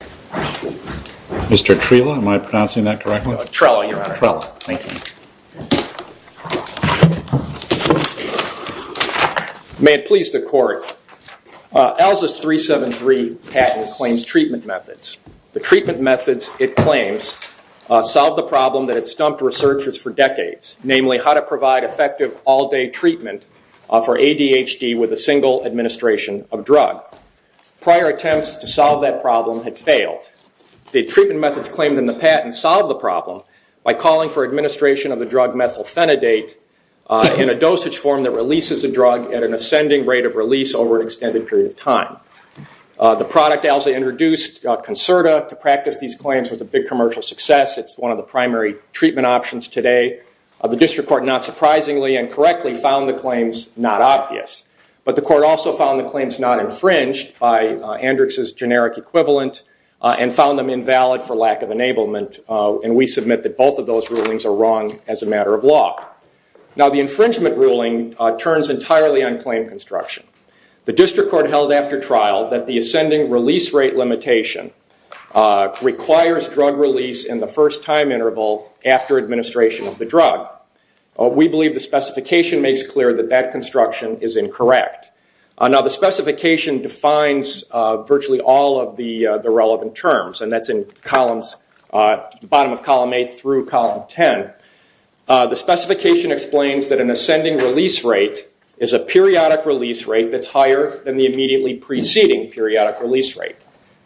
May it please the court, ALZA's 373 patent claims treatment methods. The treatment methods it claims solved the problem that had stumped researchers for decades, namely how to provide effective all-day treatment for ADHD with a single administration of drug. Prior attempts to solve that problem had failed. The treatment methods claimed in the patent solved the problem by calling for administration of the drug methylphenidate in a dosage form that releases a drug at an ascending rate of release over an extended period of time. The product ALZA introduced, Concerta, to practice these claims was a big commercial success. It's one of the primary treatment options today. The district court, not surprisingly and correctly, found the claims not obvious. But the court also found the claims not infringed by Andrx's generic equivalent and found them invalid for lack of enablement. And we submit that both of those rulings are wrong as a matter of law. Now the infringement ruling turns entirely on claim construction. The district court held after trial that the ascending release rate limitation requires drug release in the first time interval after administration of the drug. We believe the specification makes clear that that construction is incorrect. Now the specification defines virtually all of the relevant terms and that's in the bottom of column 8 through column 10. The specification explains that an ascending release rate is a periodic release rate that's higher than the immediately preceding periodic release rate.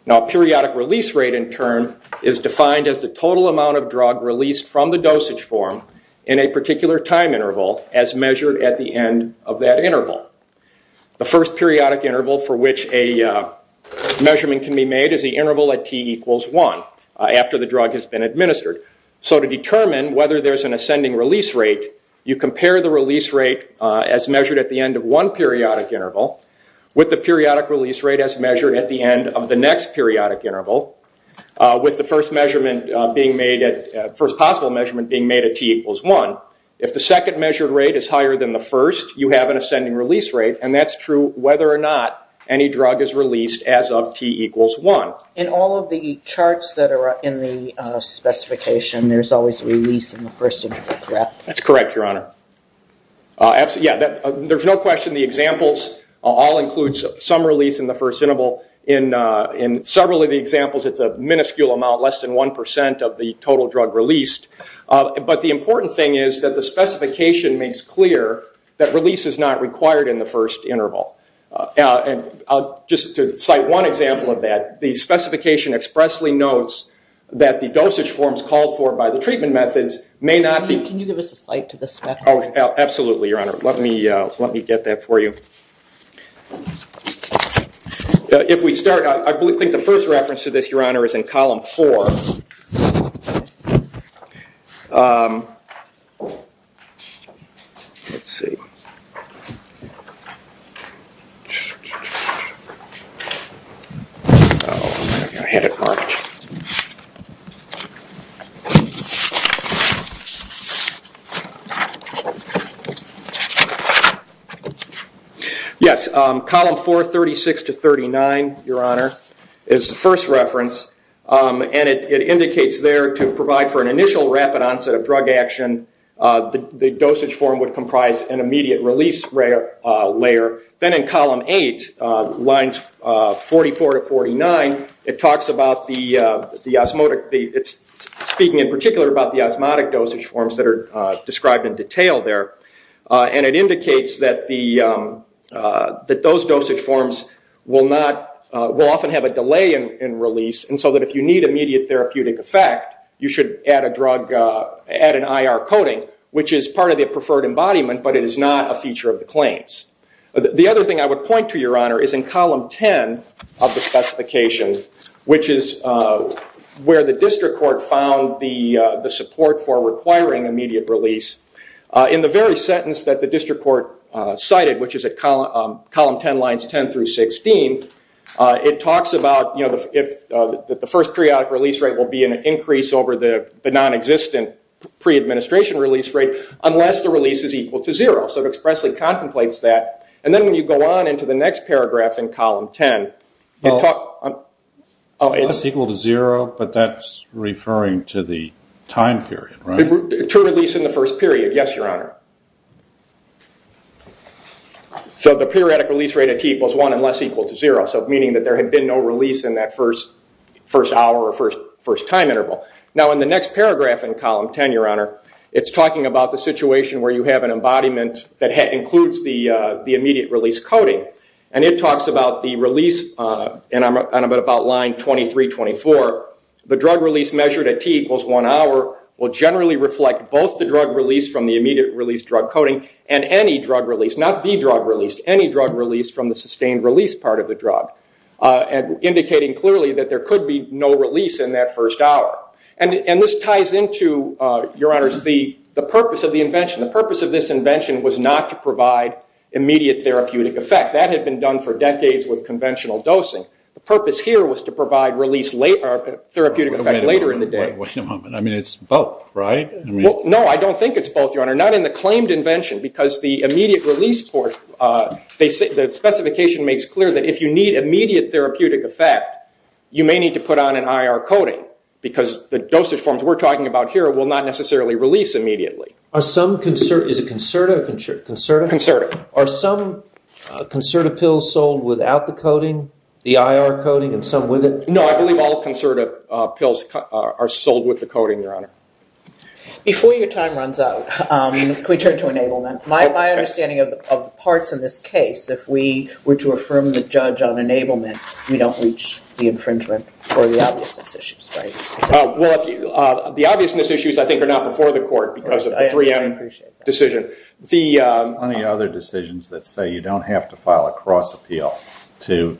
Now periodic release rate in turn is defined as the total amount of drug released from the dosage form in a particular time interval as measured at the end of that interval. The first periodic interval for which a measurement can be made is the interval at T equals 1 after the drug has been administered. So to determine whether there's an ascending release rate, you compare the release rate as measured at the end of one periodic interval with the periodic release rate as measured at the end of the next periodic interval with the first possible measurement being made at T equals 1. If the second measured rate is higher than the first, you have an ascending release rate and that's true whether or not any drug is released as of T equals 1. In all of the charts that are in the specification, there's always a release in the first interval, correct? That's correct, Your Honor. There's no question the examples all include some release in the first interval. In several of the examples it's a minuscule amount, less than 1% of the total drug released. But the important thing is that the specification makes clear that release is not required in the first interval. Just to cite one example of that, the specification expressly notes that the dosage forms called for by the treatment methods may not be... Can you give us a cite to this? Absolutely, Your Honor. Let me get that for you. If we start, I think the first reference to this, Your Honor, is in column 4. Let's see. Yes, column 4, 36 to 39, Your Honor, is the first reference and it indicates there to provide for an initial rapid onset of drug action. The dosage form would comprise an immediate release layer. Then in column 8, lines 44 to 49, it's speaking in particular about the osmotic dosage forms that are described in detail there. It indicates that those dosage forms will often have a delay in release and so that if you need immediate therapeutic effect, you should add an IR coating, which is part of the preferred embodiment, but it is not a feature of the claims. The other thing I would point to, Your Honor, is in column 10 of the specification, which is where the district court found the support for requiring immediate release. In the very sentence that the district court cited, which is at column 10, lines 10 through 16, it talks about the first periodic release rate will be an increase over the non-existent pre-administration release rate unless the release is equal to zero. It expressly contemplates that. Then when you go on into the next paragraph in column 10... It's equal to zero, but that's referring to the time period, right? To release in the first period, yes, Your Honor. So the periodic release rate at T equals one unless equal to zero, meaning that there had been no release in that first hour or first time interval. Now in the next paragraph in column 10, Your Honor, it's talking about the situation where you have an embodiment that includes the immediate release coating. And it talks about the release, and I'm about line 23-24. The drug release measured at T equals one hour will generally reflect both the drug release from the immediate release drug coating and any drug release, not the drug release, any drug release from the sustained release part of the drug, indicating clearly that there could be no release in that first hour. And this ties into, Your Honors, the purpose of the invention. The purpose of this invention was not to provide immediate therapeutic effect. That had been done for decades with conventional dosing. The purpose here was to provide therapeutic effect later in the day. Wait a moment. I mean, it's both, right? No, I don't think it's both, Your Honor. Not in the claimed invention, because the immediate release part, the specification makes clear that if you need immediate therapeutic effect, you may need to put on an IR coating, because the dosage forms we're talking about here will not necessarily release immediately. Is it Concerta or Concerta? Concerta. Are some Concerta pills sold without the coating, the IR coating, and some with it? No, I believe all Concerta pills are sold with the coating, Your Honor. Before your time runs out, can we turn to enablement? My understanding of parts in this case, if we were to affirm the judge on enablement, we don't reach the infringement or the obviousness issues, right? Well, the obviousness issues, I think, are not before the court because of the 3M decision. I appreciate that. The other decisions that say you don't have to file a cross appeal to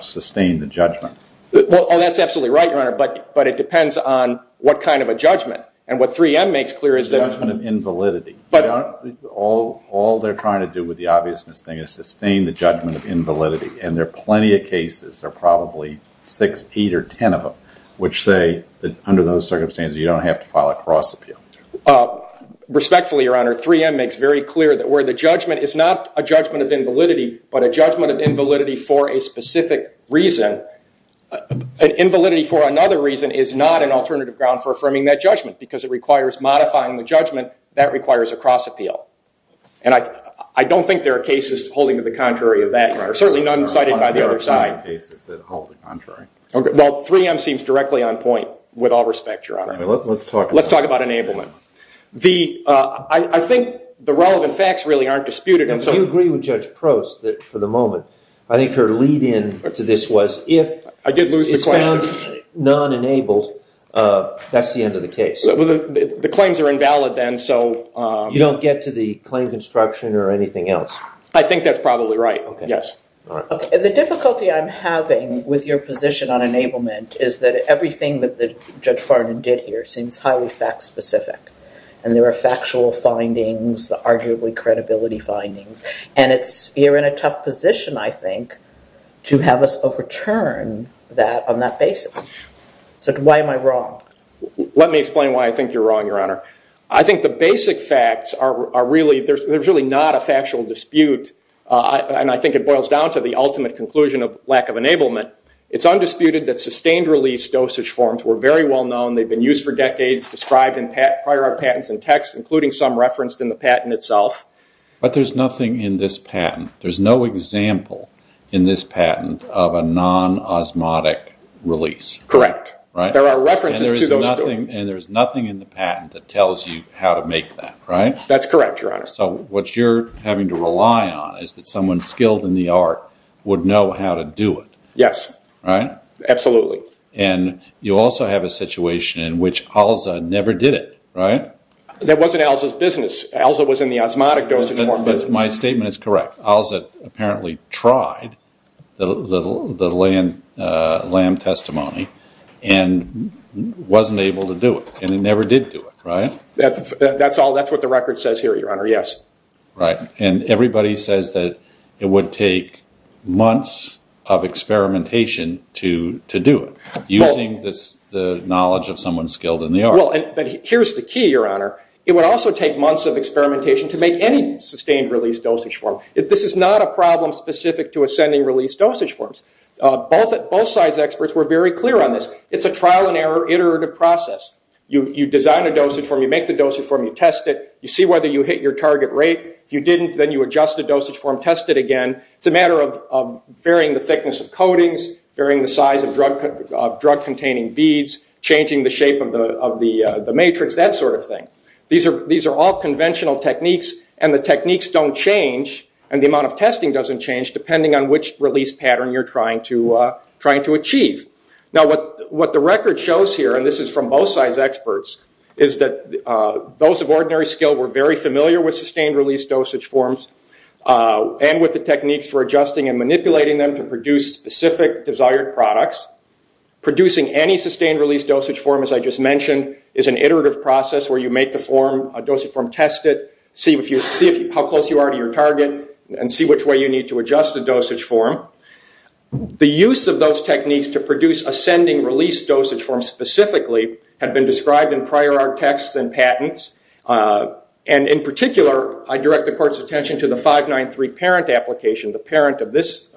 sustain the judgment. Well, that's absolutely right, Your Honor, but it depends on what kind of a judgment. And what 3M makes clear is that— The judgment of invalidity. But— All they're trying to do with the obviousness thing is sustain the judgment of invalidity. And there are plenty of cases, there are probably six, eight, or ten of them, which say that under those circumstances, you don't have to file a cross appeal. Respectfully, Your Honor, 3M makes very clear that where the judgment is not a judgment of invalidity, but a judgment of invalidity for a specific reason, an invalidity for another reason is not an alternative ground for affirming that judgment because it requires modifying the judgment. That requires a cross appeal. And I don't think there are cases holding to the contrary of that, or certainly none cited by the other side. There are plenty of cases that hold to the contrary. Well, 3M seems directly on point, with all respect, Your Honor. Let's talk about— Let's talk about enablement. I think the relevant facts really aren't disputed, and so— Do you agree with Judge Prost that, for the moment, I think her lead-in to this was, if— I did lose the question. —it's found non-enabled, that's the end of the case. The claims are invalid then, so— You don't get to the claim construction or anything else. I think that's probably right, yes. The difficulty I'm having with your position on enablement is that everything that Judge Farnon did here seems highly fact-specific. And there are factual findings, arguably credibility findings, and you're in a tough position, I think, to have us overturn that on that basis. So why am I wrong? Let me explain why I think you're wrong, Your Honor. I think the basic facts are really—they're really not a factual dispute. And I think it boils down to the ultimate conclusion of lack of enablement. It's undisputed that sustained-release dosage forms were very well-known. They've been used for decades, described in prior patents and texts, including some referenced in the patent itself. But there's nothing in this patent. There's no example in this patent of a non-osmotic release. Correct. There are references to those— And there's nothing in the patent that tells you how to make that, right? That's correct, Your Honor. So what you're having to rely on is that someone skilled in the art would know how to do it. Yes. Right? Absolutely. And you also have a situation in which ALZA never did it, right? That wasn't ALZA's business. My statement is correct. ALZA apparently tried the LAM testimony and wasn't able to do it. And it never did do it, right? That's what the record says here, Your Honor. Yes. Right. And everybody says that it would take months of experimentation to do it, using the knowledge of someone skilled in the art. Well, here's the key, Your Honor. It would also take months of experimentation to make any sustained-release dosage form. This is not a problem specific to ascending-release dosage forms. Both sides' experts were very clear on this. It's a trial-and-error iterative process. You design a dosage form. You make the dosage form. You test it. You see whether you hit your target rate. If you didn't, then you adjust the dosage form, test it again. It's a matter of varying the thickness of coatings, varying the size of drug-containing beads, changing the shape of the matrix, that sort of thing. These are all conventional techniques, and the techniques don't change, and the amount of testing doesn't change, depending on which release pattern you're trying to achieve. Now, what the record shows here, and this is from both sides' experts, is that those of ordinary skill were very familiar with sustained-release dosage forms and with the techniques for adjusting and manipulating them to produce specific desired products. Producing any sustained-release dosage form, as I just mentioned, is an iterative process where you make the form, a dosage form, test it, see how close you are to your target, and see which way you need to adjust the dosage form. The use of those techniques to produce ascending-release dosage forms specifically had been described in prior art texts and patents, and in particular I direct the Court's attention to the 593 parent application, the parent of this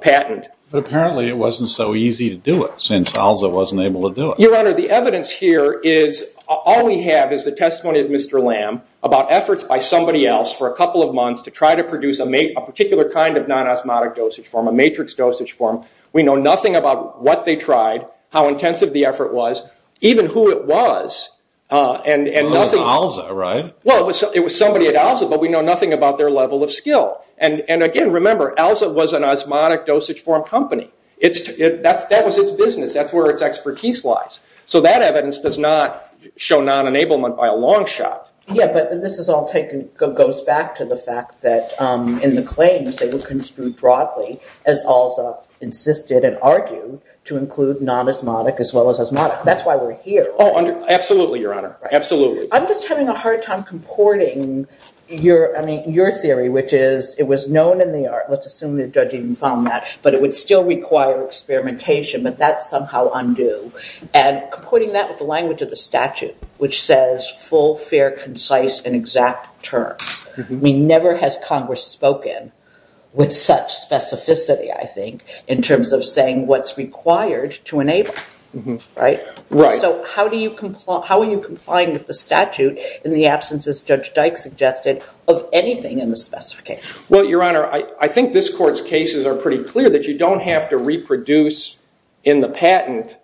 patent. But apparently it wasn't so easy to do it, since ELSA wasn't able to do it. Your Honor, the evidence here is, all we have is the testimony of Mr. Lamb about efforts by somebody else for a couple of months to try to produce a particular kind of non-osmotic dosage form, a matrix dosage form. We know nothing about what they tried, how intensive the effort was, even who it was. It was ELSA, right? Well, it was somebody at ELSA, but we know nothing about their level of skill. And again, remember, ELSA was an osmotic dosage form company. That was its business, that's where its expertise lies. So that evidence does not show non-enablement by a long shot. Yeah, but this all goes back to the fact that in the claims they were construed broadly, as ELSA insisted and argued, to include non-osmotic as well as osmotic. That's why we're here. Oh, absolutely, Your Honor, absolutely. I'm just having a hard time comporting your theory, which is it was known in the art, let's assume the judge even found that, but it would still require experimentation, but that's somehow undue. And comporting that with the language of the statute, which says full, fair, concise, and exact terms. Never has Congress spoken with such specificity, I think, in terms of saying what's required to enable, right? Right. So how are you complying with the statute in the absence, as Judge Dyke suggested, of anything in the specification? Well, Your Honor, I think this Court's cases are pretty clear that you don't have to reproduce in the patent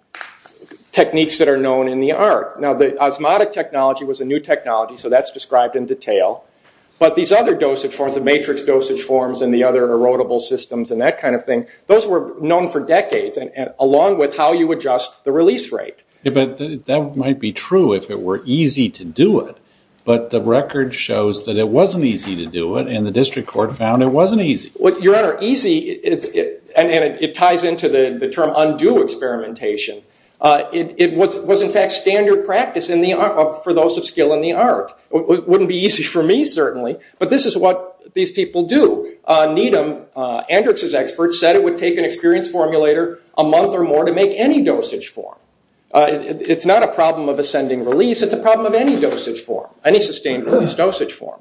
techniques that are known in the art. Now, the osmotic technology was a new technology, so that's described in detail. But these other dosage forms, the matrix dosage forms and the other erodible systems and that kind of thing, those were known for decades, along with how you adjust the release rate. But that might be true if it were easy to do it, but the record shows that it wasn't easy to do it, and the District Court found it wasn't easy. Your Honor, easy, and it ties into the term undue experimentation, it was, in fact, standard practice for those of skill in the art. It wouldn't be easy for me, certainly, but this is what these people do. Needham, Andrick's expert, said it would take an experienced formulator a month or more to make any dosage form. It's not a problem of ascending release, it's a problem of any dosage form, any sustained release dosage form.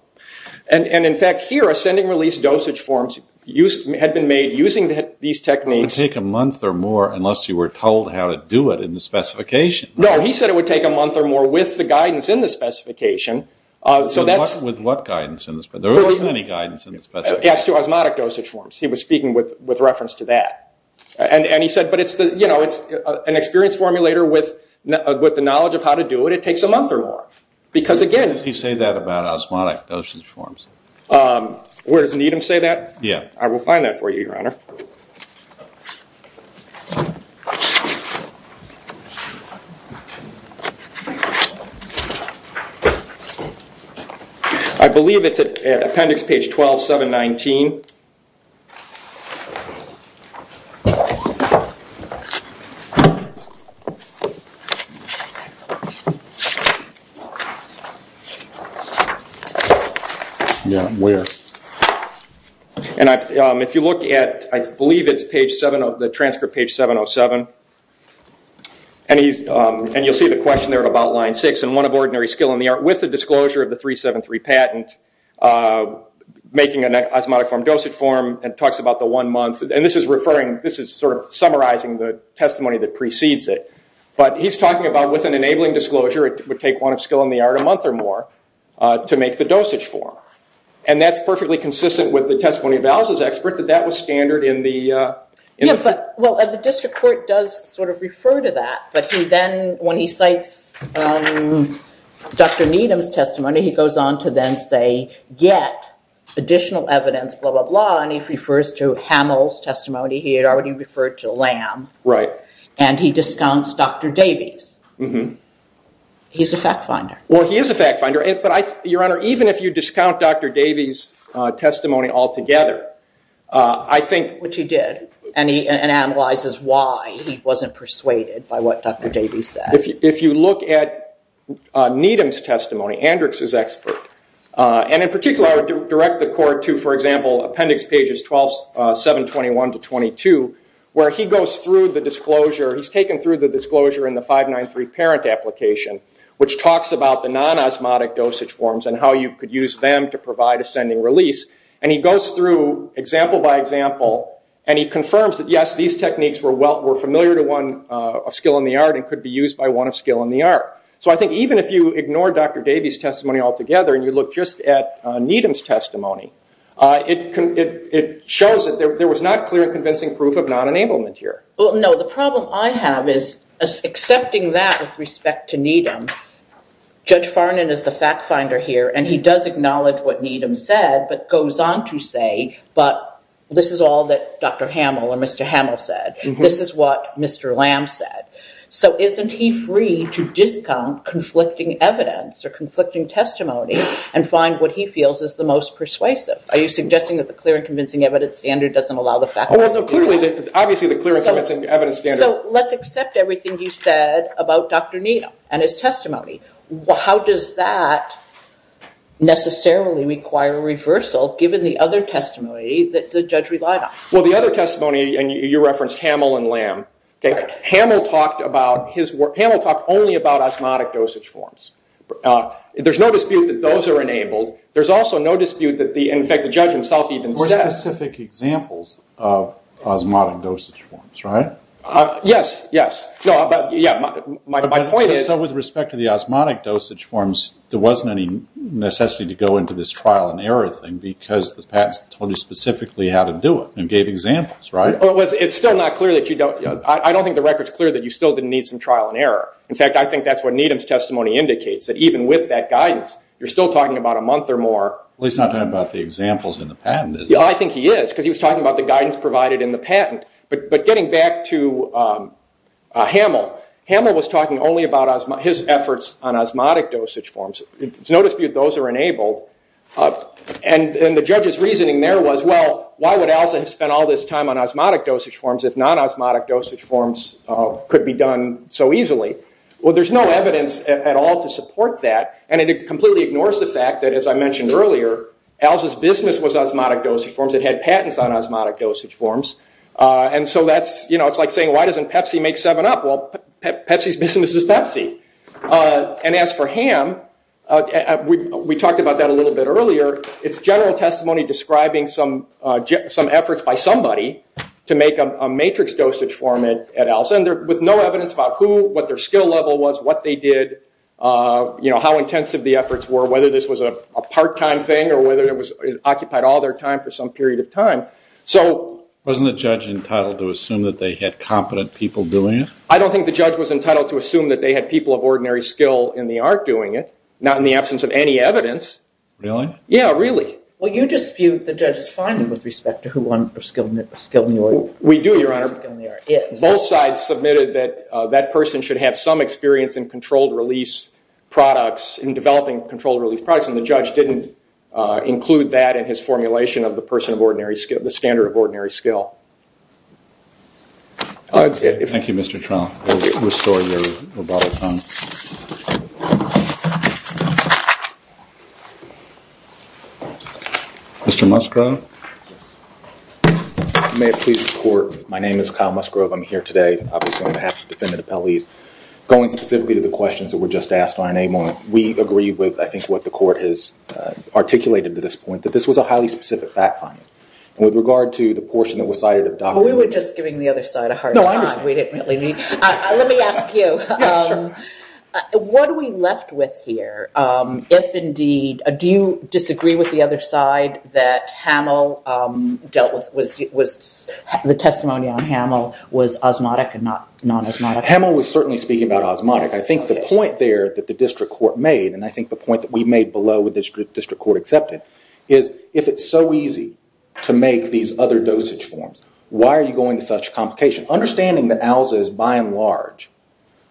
And, in fact, here ascending release dosage forms had been made using these techniques. It would take a month or more unless you were told how to do it in the specification. No, he said it would take a month or more with the guidance in the specification. With what guidance? There wasn't any guidance in the specification. As to osmotic dosage forms, he was speaking with reference to that. And he said, but it's an experienced formulator with the knowledge of how to do it. It takes a month or more because, again- Did he say that about osmotic dosage forms? Where does Needham say that? I will find that for you, Your Honor. I believe it's at appendix page 12, 719. Yeah, where? And if you look at, I believe it's transcript page 707, and you'll see the question there about line six, and one of ordinary skill in the art with the disclosure of the 373 patent, making an osmotic form dosage form, and talks about the one month. And this is sort of summarizing the testimony that precedes it. But he's talking about with an enabling disclosure, it would take one of skill in the art a month or more to make the dosage form. And that's perfectly consistent with the testimony of Alice's expert, that that was standard in the- Yeah, but the district court does sort of refer to that. But he then, when he cites Dr. Needham's testimony, he goes on to then say, get additional evidence, blah, blah, blah. And he refers to Hamill's testimony. He had already referred to Lamb. And he discounts Dr. Davies. He's a fact finder. Well, he is a fact finder. Even if you discount Dr. Davies' testimony altogether, I think- Which he did. And he analyzes why he wasn't persuaded by what Dr. Davies said. If you look at Needham's testimony, Andrix's expert, and in particular direct the court to, for example, appendix pages 12, 721 to 22, where he goes through the disclosure. He's taken through the disclosure in the 593 parent application, which talks about the non-osmotic dosage forms and how you could use them to provide ascending release. And he goes through example by example, and he confirms that, yes, these techniques were familiar to one of skill in the art and could be used by one of skill in the art. So I think even if you ignore Dr. Davies' testimony altogether and you look just at Needham's testimony, it shows that there was not clear and convincing proof of non-enablement here. No, the problem I have is accepting that with respect to Needham, Judge Farnan is the fact finder here, and he does acknowledge what Needham said but goes on to say, but this is all that Dr. Hamill or Mr. Hamill said. This is what Mr. Lamb said. So isn't he free to discount conflicting evidence or conflicting testimony and find what he feels is the most persuasive? Are you suggesting that the clear and convincing evidence standard doesn't allow the fact finder to do that? No, clearly, obviously the clear and convincing evidence standard. So let's accept everything you said about Dr. Needham and his testimony. How does that necessarily require a reversal, given the other testimony that the judge relied on? Well, the other testimony, and you referenced Hamill and Lamb, Hamill talked only about osmotic dosage forms. There's no dispute that those are enabled. There's also no dispute that the, in fact, the judge himself even said. There were specific examples of osmotic dosage forms, right? Yes, yes. My point is. So with respect to the osmotic dosage forms, there wasn't any necessity to go into this trial and error thing because the patents told you specifically how to do it and gave examples, right? It's still not clear that you don't. I don't think the record's clear that you still didn't need some trial and error. In fact, I think that's what Needham's testimony indicates, that even with that guidance, you're still talking about a month or more. Well, he's not talking about the examples in the patent, is he? I think he is, because he was talking about the guidance provided in the patent. But getting back to Hamill, Hamill was talking only about his efforts on osmotic dosage forms. There's no dispute those are enabled. And the judge's reasoning there was, well, why would ALSA have spent all this time on osmotic dosage forms if non-osmotic dosage forms could be done so easily? Well, there's no evidence at all to support that, and it completely ignores the fact that, as I mentioned earlier, ALSA's business was osmotic dosage forms. It had patents on osmotic dosage forms. And so that's, you know, it's like saying, why doesn't Pepsi make 7-Up? Well, Pepsi's business is Pepsi. And as for Ham, we talked about that a little bit earlier, it's general testimony describing some efforts by somebody to make a matrix dosage form at ALSA with no evidence about who, what their skill level was, what they did, you know, how intensive the efforts were, whether this was a part-time thing or whether it occupied all their time for some period of time. So... Wasn't the judge entitled to assume that they had competent people doing it? I don't think the judge was entitled to assume that they had people of ordinary skill in the art doing it, not in the absence of any evidence. Really? Yeah, really. Well, you dispute the judge's finding with respect to who one of the skilled... We do, Your Honor. Both sides submitted that that person should have some experience in controlled-release products, in developing controlled-release products, and the judge didn't include that in his formulation of the person of ordinary skill, the standard of ordinary skill. Thank you, Mr. Truong. We'll restore your rebuttal time. Mr. Musgrove? Yes. May it please the Court, my name is Kyle Musgrove. I'm here today, obviously, on behalf of the Defendant Appellees. Going specifically to the questions that were just asked on enablement, we agree with, I think, what the Court has articulated to this point, that this was a highly specific fact-finding. And with regard to the portion that was cited... We were just giving the other side a hard time. No, I'm just... We didn't really mean... Let me ask you. Yeah, sure. What are we left with here? If indeed... Do you disagree with the other side that Hamill dealt with was... The testimony on Hamill was osmotic and not non-osmotic? Hamill was certainly speaking about osmotic. I think the point there that the District Court made, and I think the point that we made below, which the District Court accepted, is if it's so easy to make these other dosage forms, why are you going to such complication? Understanding that ALSA is, by and large,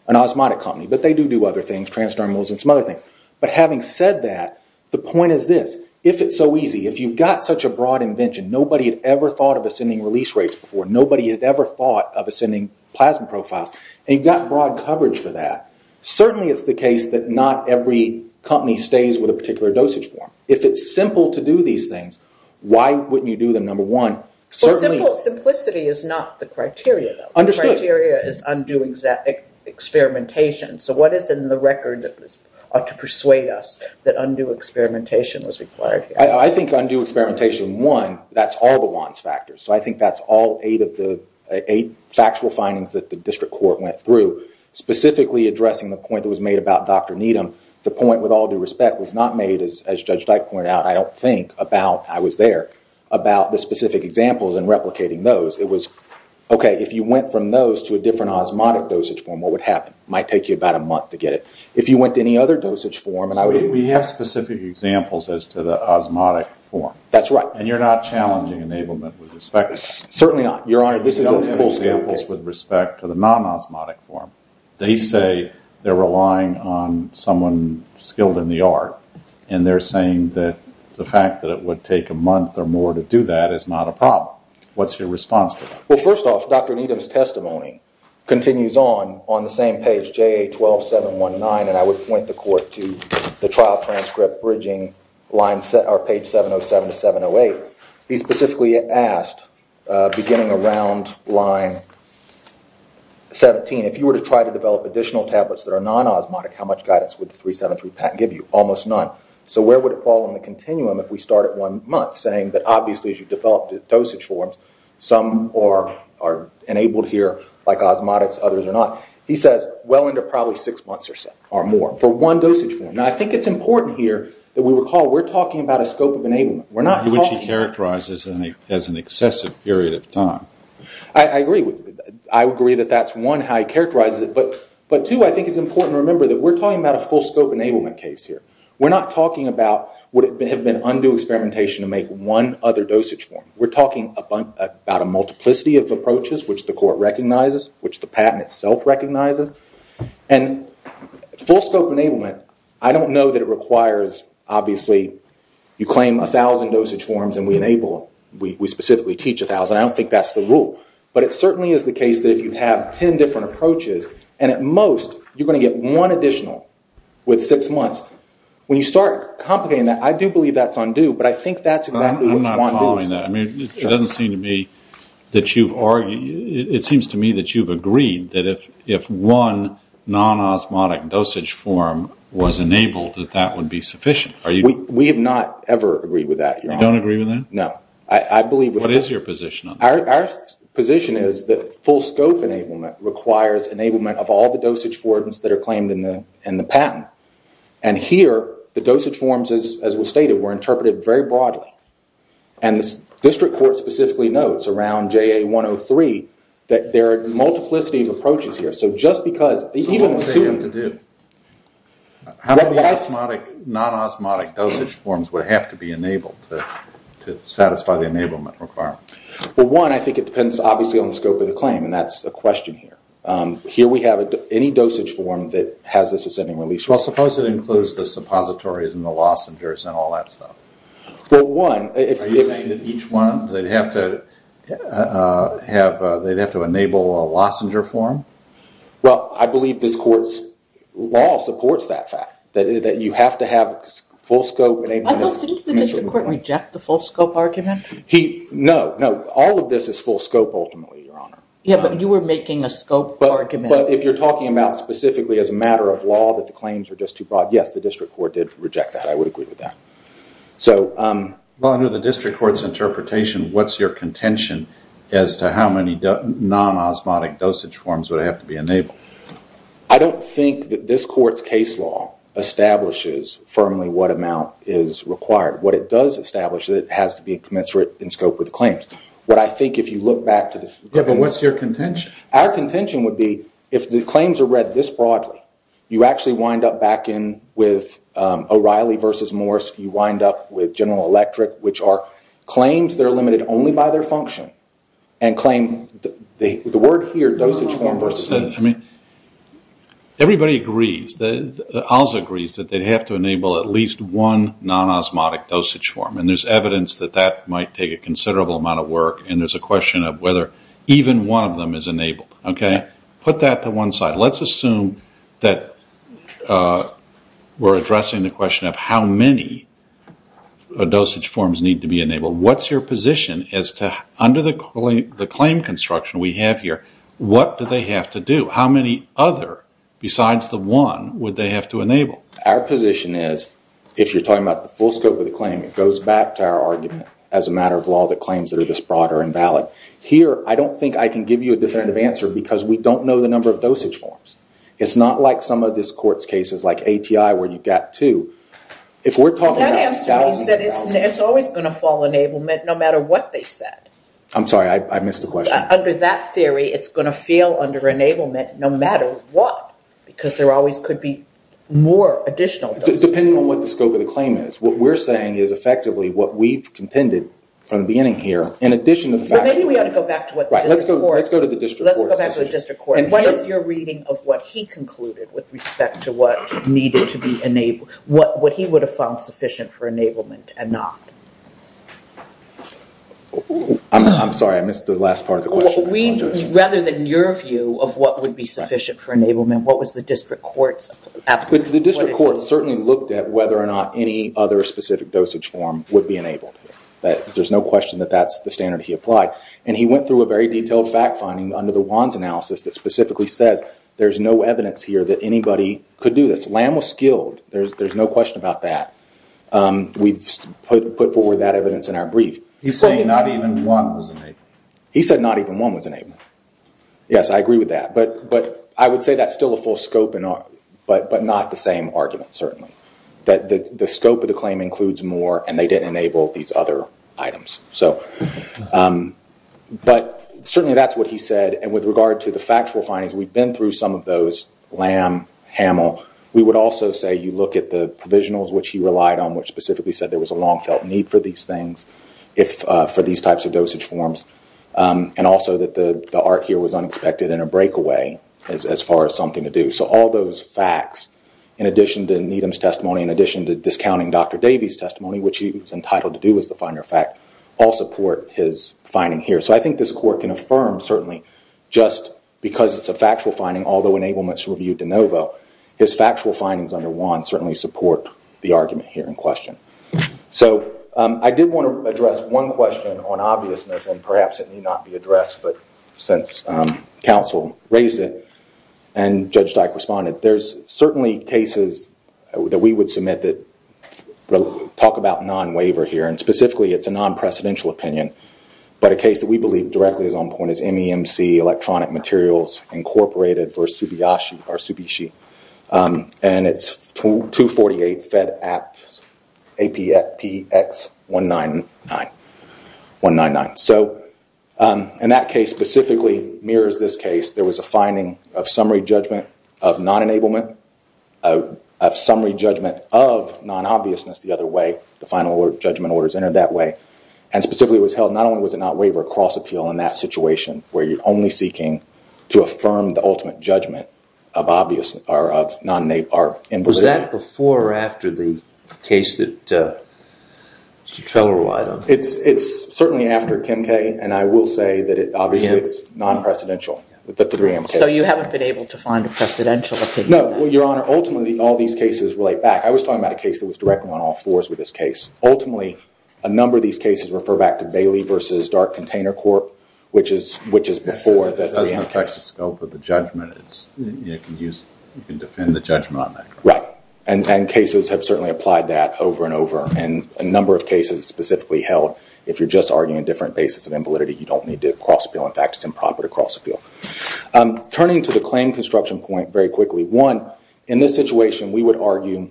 an osmotic company, but they do do other things, transdermals and some other things. But having said that, the point is this. If it's so easy, if you've got such a broad invention, nobody had ever thought of ascending release rates before, nobody had ever thought of ascending plasma profiles, and you've got broad coverage for that, certainly it's the case that not every company stays with a particular dosage form. If it's simple to do these things, why wouldn't you do them, number one? Well, simplicity is not the criteria, though. Understood. The criteria is undue experimentation. So what is in the record to persuade us that undue experimentation was required? I think undue experimentation, one, that's all the WANs factors. So I think that's all eight factual findings that the District Court went through, specifically addressing the point that was made about Dr. Needham. The point, with all due respect, was not made, as Judge Dyke pointed out, I don't think, about I was there, about the specific examples and replicating those. It was, OK, if you went from those to a different osmotic dosage form, what would happen? It might take you about a month to get it. If you went to any other dosage form... So we have specific examples as to the osmotic form. That's right. And you're not challenging enablement with respect to that? Certainly not, Your Honor. No examples with respect to the non-osmotic form. They say they're relying on someone skilled in the art, and they're saying that the fact that it would take a month or more to do that is not a problem. What's your response to that? Well, first off, Dr. Needham's testimony continues on, on the same page, JA12719, and I would point the Court to the trial transcript bridging page 707 to 708. He specifically asked, beginning around line 17, if you were to try to develop additional tablets that are non-osmotic, how much guidance would the 373 patent give you? Almost none. So where would it fall in the continuum if we start at one month, saying that, obviously, as you develop the dosage forms, some are enabled here like osmotics, others are not, he says well into probably six months or so, or more, for one dosage form. Now, I think it's important here that we recall we're talking about a scope of enablement. Which he characterizes as an excessive period of time. I agree. I agree that that's, one, how he characterizes it, but, two, I think it's important to remember that we're talking about a full scope enablement case here. We're not talking about what have been undue experimentation to make one other dosage form. We're talking about a multiplicity of approaches, which the court recognizes, which the patent itself recognizes. And full scope enablement, I don't know that it requires, obviously, you claim 1,000 dosage forms and we enable them. We specifically teach 1,000. I don't think that's the rule. But it certainly is the case that if you have 10 different approaches, and at most you're going to get one additional with six months, when you start complicating that, I do believe that's undue, but I think that's exactly what you want to do. I'm not calling that. It doesn't seem to me that you've argued, it seems to me that you've agreed that if one non-osmotic dosage form was enabled, that that would be sufficient. We have not ever agreed with that, Your Honor. You don't agree with that? No. What is your position on that? Our position is that full scope enablement requires enablement of all the dosage forms that are claimed in the patent. And here, the dosage forms, as was stated, were interpreted very broadly. And the district court specifically notes around JA 103 that there are multiplicity of approaches here. So just because, even assuming... What would they have to do? How many non-osmotic dosage forms would have to be enabled to satisfy the enablement requirement? Well, one, I think it depends obviously on the scope of the claim, and that's a question here. Here we have any dosage form that has this ascending release rule. Well, suppose it includes the suppositories and the lozengers and all that stuff. Well, one... Are you saying that each one, they'd have to enable a lozenger form? Well, I believe this court's law supports that fact, that you have to have full scope enablement... I thought, didn't the district court reject the full scope argument? No, no. All of this is full scope ultimately, Your Honor. Yeah, but you were making a scope argument. But if you're talking about specifically as a matter of law that the claims are just too broad, yes, the district court did reject that. I would agree with that. Well, under the district court's interpretation, what's your contention as to how many non-osmotic dosage forms would have to be enabled? I don't think that this court's case law establishes firmly what amount is required. What it does establish is that it has to be commensurate in scope with the claims. What I think, if you look back to the... Yeah, but what's your contention? Our contention would be, if the claims are read this broadly, you actually wind up back in with O'Reilly versus Morse, you wind up with General Electric, which are claims that are limited only by their function and claim... The word here, dosage form versus... I mean, everybody agrees. The OZ agrees that they'd have to enable at least one non-osmotic dosage form, and there's evidence that that might take a considerable amount of work, and there's a question of whether even one of them is enabled. Okay? Put that to one side. Let's assume that we're addressing the question of how many dosage forms need to be enabled. What's your position as to, under the claim construction we have here, what do they have to do? How many other, besides the one, would they have to enable? Our position is, if you're talking about the full scope of the claim, it goes back to our argument, as a matter of law, that claims that are this broad are invalid. Here, I don't think I can give you a definitive answer because we don't know the number of dosage forms. It's not like some of this court's cases, like ATI, where you've got two. If we're talking about thousands and thousands... That answer means that it's always going to fall enablement, no matter what they said. I'm sorry, I missed the question. Under that theory, it's going to feel under enablement, no matter what, because there always could be more additional dosage forms. Depending on what the scope of the claim is. What we're saying is, effectively, what we've contended from the beginning here, in addition to the fact that... Maybe we ought to go back to what the district court... Let's go to the district court. Let's go back to the district court. What is your reading of what he concluded, with respect to what he would have found sufficient for enablement and not? I'm sorry, I missed the last part of the question. Rather than your view of what would be sufficient for enablement, what was the district court's... The district court certainly looked at whether or not any other specific dosage form would be enabled. There's no question that that's the standard he applied. He went through a very detailed fact-finding under the Wands analysis that specifically says there's no evidence here that anybody could do this. Lamb was skilled. There's no question about that. We've put forward that evidence in our brief. You're saying not even one was enabled? He said not even one was enabled. Yes, I agree with that. I would say that's still a full scope, but not the same argument, certainly. The scope of the claim includes more, and they didn't enable these other items. Certainly, that's what he said. With regard to the factual findings, we've been through some of those. Lamb, Hamill. We would also say you look at the provisionals, which he relied on, which specifically said there was a long-felt need for these things, for these types of dosage forms, and also that the art here was unexpected and a breakaway as far as something to do. All those facts, in addition to Needham's testimony, in addition to discounting Dr. Davies' testimony, which he was entitled to do as the final fact, all support his finding here. I think this court can affirm, certainly, just because it's a factual finding, although enablements were viewed de novo, his factual findings under WAN certainly support the argument here in question. I did want to address one question on obviousness, and perhaps it may not be addressed, but since counsel raised it and Judge Dyke responded, there's certainly cases that we would submit that talk about non-waiver here. Specifically, it's a non-precedential opinion, but a case that we believe directly is on point is MEMC, Electronic Materials Incorporated v. Tsubishi. It's 248 Fed App, APX 199. In that case, specifically, mirrors this case. There was a finding of summary judgment of non-enablement, of summary judgment of non-obviousness the other way. The final judgment orders entered that way. Specifically, it was held, not only was it not waiver, cross-appeal in that situation, where you're only seeking to affirm the ultimate judgment of non-enablement. Was that before or after the case that Mr. Trello relied on? It's certainly after Kim K. and I will say that it obviously is non-precedential, the 3M case. So you haven't been able to find a precedential opinion? No. Your Honor, ultimately, all these cases relate back. I was talking about a case that was directly on all fours with this case. Ultimately, a number of these cases refer back to Bailey v. Dark Container Corp., which is before the 3M case. It doesn't affect the scope of the judgment. You can defend the judgment on that case. Right, and cases have certainly applied that over and over, and a number of cases specifically held, if you're just arguing a different basis of invalidity, you don't need to cross-appeal. In fact, it's improper to cross-appeal. Turning to the claim construction point very quickly, one, in this situation, we would argue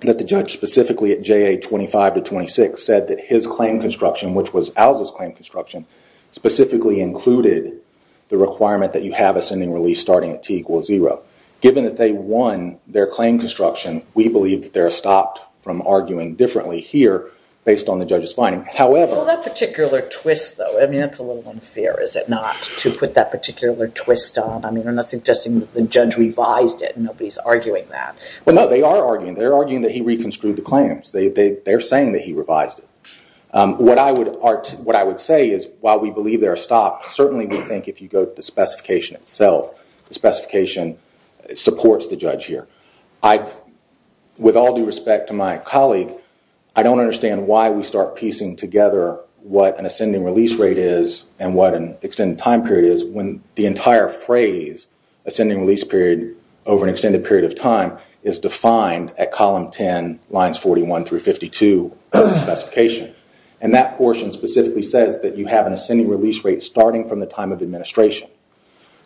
that the judge, specifically at JA 25 to 26, said that his claim construction, which was Alza's claim construction, specifically included the requirement that you have a sending release starting at T equals zero. Given that they won their claim construction, we believe that they're stopped from arguing differently here based on the judge's finding. However... Well, that particular twist, though, I mean, that's a little unfair, is it not, to put that particular twist on? I mean, you're not suggesting that the judge revised it, and nobody's arguing that. Well, no, they are arguing. They're arguing that he reconstrued the claims. They're saying that he revised it. What I would say is, while we believe they're stopped, certainly we think if you go to the specification itself, the specification supports the judge here. With all due respect to my colleague, I don't understand why we start piecing together what an ascending release rate is and what an extended time period is when the entire phrase, ascending release period over an extended period of time, is defined at column 10, lines 41 through 52 of the specification. And that portion specifically says that you have an ascending release rate starting from the time of administration.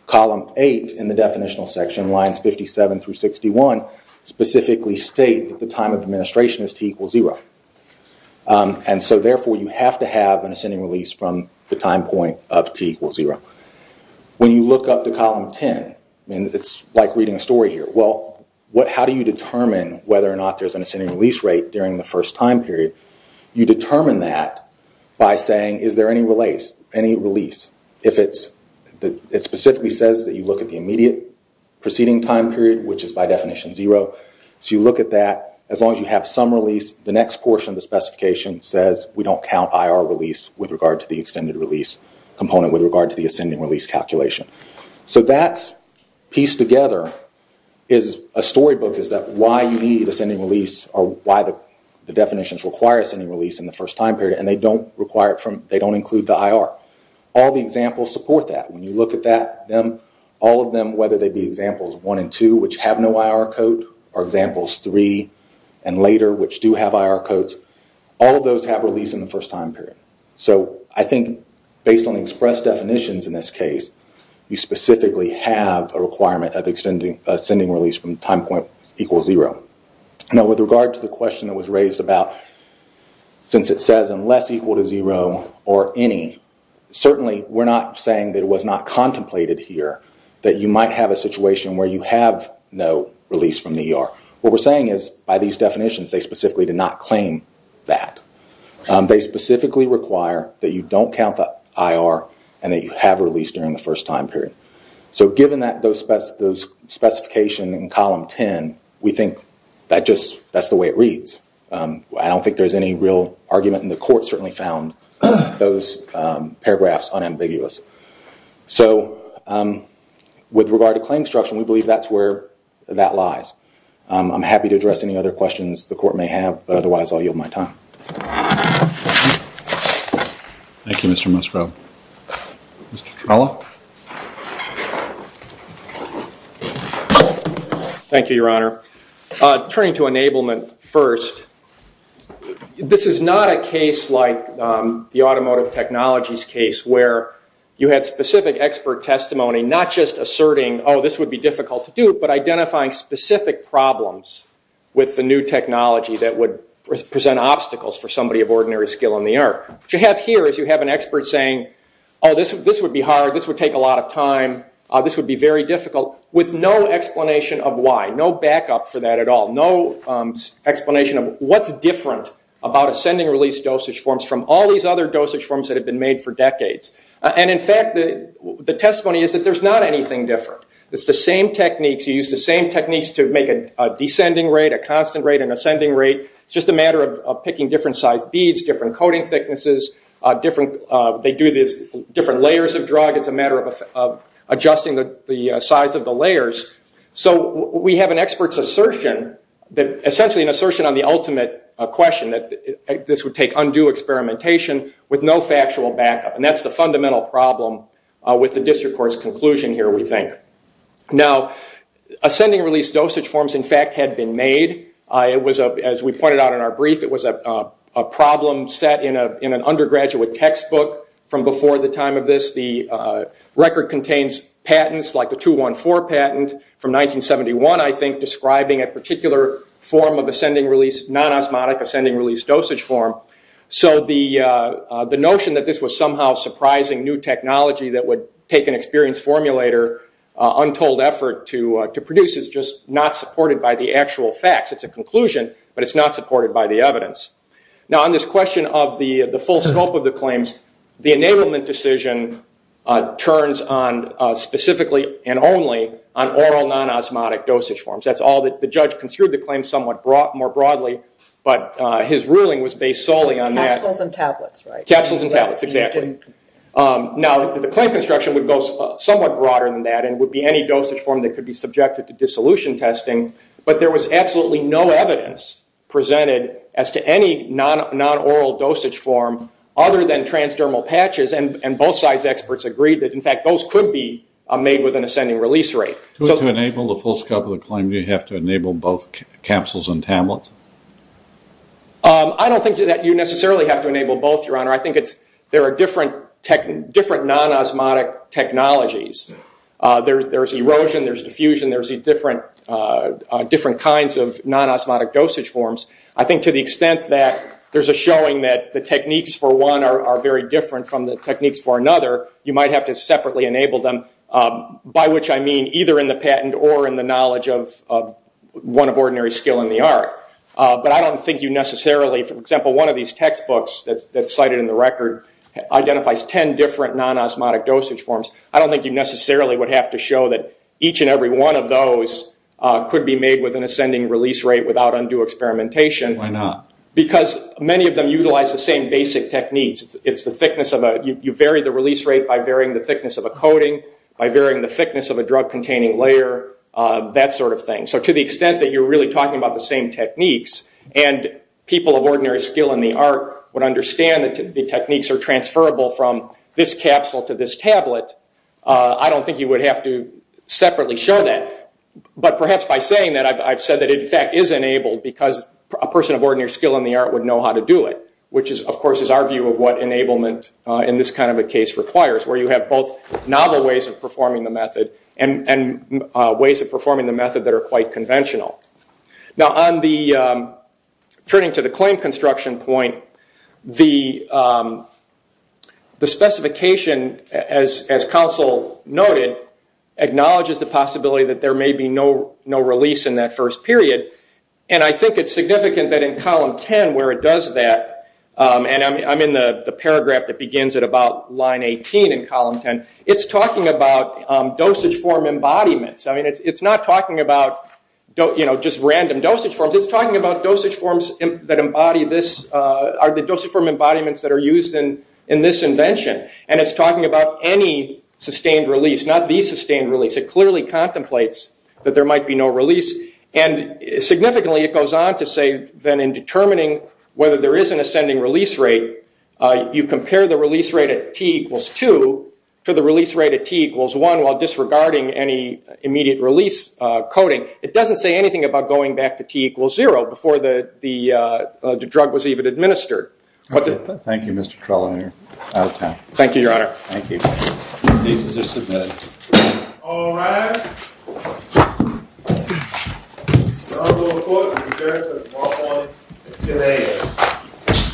Column 8 in the definitional section, lines 57 through 61, specifically state that the time of administration is T equals zero. And so, therefore, you have to have an ascending release from the time point of T equals zero. When you look up to column 10, and it's like reading a story here, well, how do you determine whether or not there's an ascending release rate during the first time period? You determine that by saying, is there any release if it specifically says that you look at the immediate preceding time period, which is by definition zero. So you look at that, as long as you have some release, the next portion of the specification says we don't count IR release with regard to the extended release component with regard to the ascending release calculation. So that pieced together is a storybook as to why you need ascending release or why the definitions require ascending release in the first time period, and they don't include the IR. All the examples support that. When you look at all of them, whether they be examples one and two, which have no IR code, or examples three and later, which do have IR codes, all of those have release in the first time period. So I think based on the express definitions in this case, you specifically have a requirement of ascending release from the time point equals zero. Now, with regard to the question that was raised about since it says unless equal to zero or any, certainly we're not saying that it was not contemplated here, that you might have a situation where you have no release from the ER. What we're saying is by these definitions, they specifically did not claim that. They specifically require that you don't count the IR and that you have release during the first time period. So given those specifications in column 10, we think that's the way it reads. I don't think there's any real argument, and the court certainly found those paragraphs unambiguous. So with regard to claim structure, we believe that's where that lies. I'm happy to address any other questions the court may have, but otherwise I'll yield my time. Thank you, Mr. Musgrove. Mr. Trella? Thank you, Your Honor. Turning to enablement first, this is not a case like the automotive technologies case where you had specific expert testimony not just asserting, oh, this would be difficult to do, but identifying specific problems with the new technology that would present obstacles for somebody of ordinary skill in the ER. What you have here is you have an expert saying, oh, this would be hard, this would take a lot of time, this would be very difficult, with no explanation of why, no backup for that at all, no explanation of what's different about ascending release dosage forms from all these other dosage forms that have been made for decades. And, in fact, the testimony is that there's not anything different. It's the same techniques. You use the same techniques to make a descending rate, a constant rate, an ascending rate. It's just a matter of picking different sized beads, different coating thicknesses, different layers of drug. It's a matter of adjusting the size of the layers. So we have an expert's assertion, essentially an assertion on the ultimate question, that this would take undue experimentation with no factual backup. And that's the fundamental problem with the district court's conclusion here, we think. Now, ascending release dosage forms, in fact, had been made. As we pointed out in our brief, it was a problem set in an undergraduate textbook from before the time of this. The record contains patents, like the 214 patent from 1971, I think, describing a particular form of ascending release, this non-osmotic ascending release dosage form. So the notion that this was somehow surprising new technology that would take an experienced formulator untold effort to produce is just not supported by the actual facts. It's a conclusion, but it's not supported by the evidence. Now, on this question of the full scope of the claims, the enablement decision turns on specifically and only on oral non-osmotic dosage forms. That's all that the judge construed the claim somewhat more broadly, but his ruling was based solely on that. Capsules and tablets, right? Capsules and tablets, exactly. Now, the claim construction would go somewhat broader than that and would be any dosage form that could be subjected to dissolution testing, but there was absolutely no evidence presented as to any non-oral dosage form other than transdermal patches, and both sides' experts agreed that, in fact, those could be made with an ascending release rate. To enable the full scope of the claim, do you have to enable both capsules and tablets? I don't think that you necessarily have to enable both, Your Honor. I think there are different non-osmotic technologies. There's erosion, there's diffusion, there's different kinds of non-osmotic dosage forms. I think to the extent that there's a showing that the techniques for one are very different from the techniques for another, you might have to separately enable them, by which I mean either in the patent or in the knowledge of one of ordinary skill in the art. But I don't think you necessarily... For example, one of these textbooks that's cited in the record identifies 10 different non-osmotic dosage forms. I don't think you necessarily would have to show that each and every one of those could be made with an ascending release rate without undue experimentation. Why not? Because many of them utilize the same basic techniques. You vary the release rate by varying the thickness of a coating, by varying the thickness of a drug-containing layer, that sort of thing. So to the extent that you're really talking about the same techniques and people of ordinary skill in the art would understand that the techniques are transferable from this capsule to this tablet, I don't think you would have to separately show that. But perhaps by saying that, I've said that it in fact is enabled because a person of ordinary skill in the art would know how to do it, which, of course, is our view of what enablement in this kind of a case requires, where you have both novel ways of performing the method and ways of performing the method that are quite conventional. Now, turning to the claim construction point, the specification, as counsel noted, acknowledges the possibility that there may be no release in that first period. I think it's significant that in column 10, where it does that, and I'm in the paragraph that begins at about line 18 in column 10, it's talking about dosage form embodiments. It's not talking about just random dosage forms. It's talking about dosage forms that embody this, the dosage form embodiments that are used in this invention. It's talking about any sustained release, not the sustained release. It clearly contemplates that there might be no release. Significantly, it goes on to say that in determining whether there is an ascending release rate, you compare the release rate at T equals 2 to the release rate at T equals 1 while disregarding any immediate release coding. It doesn't say anything about going back to T equals 0 before the drug was even administered. Thank you, Mr. Trelawney. Out of time. Thank you, Your Honor. Thank you. These are submitted. All rise. The Honorable Court will be adjourned until tomorrow morning. Good day.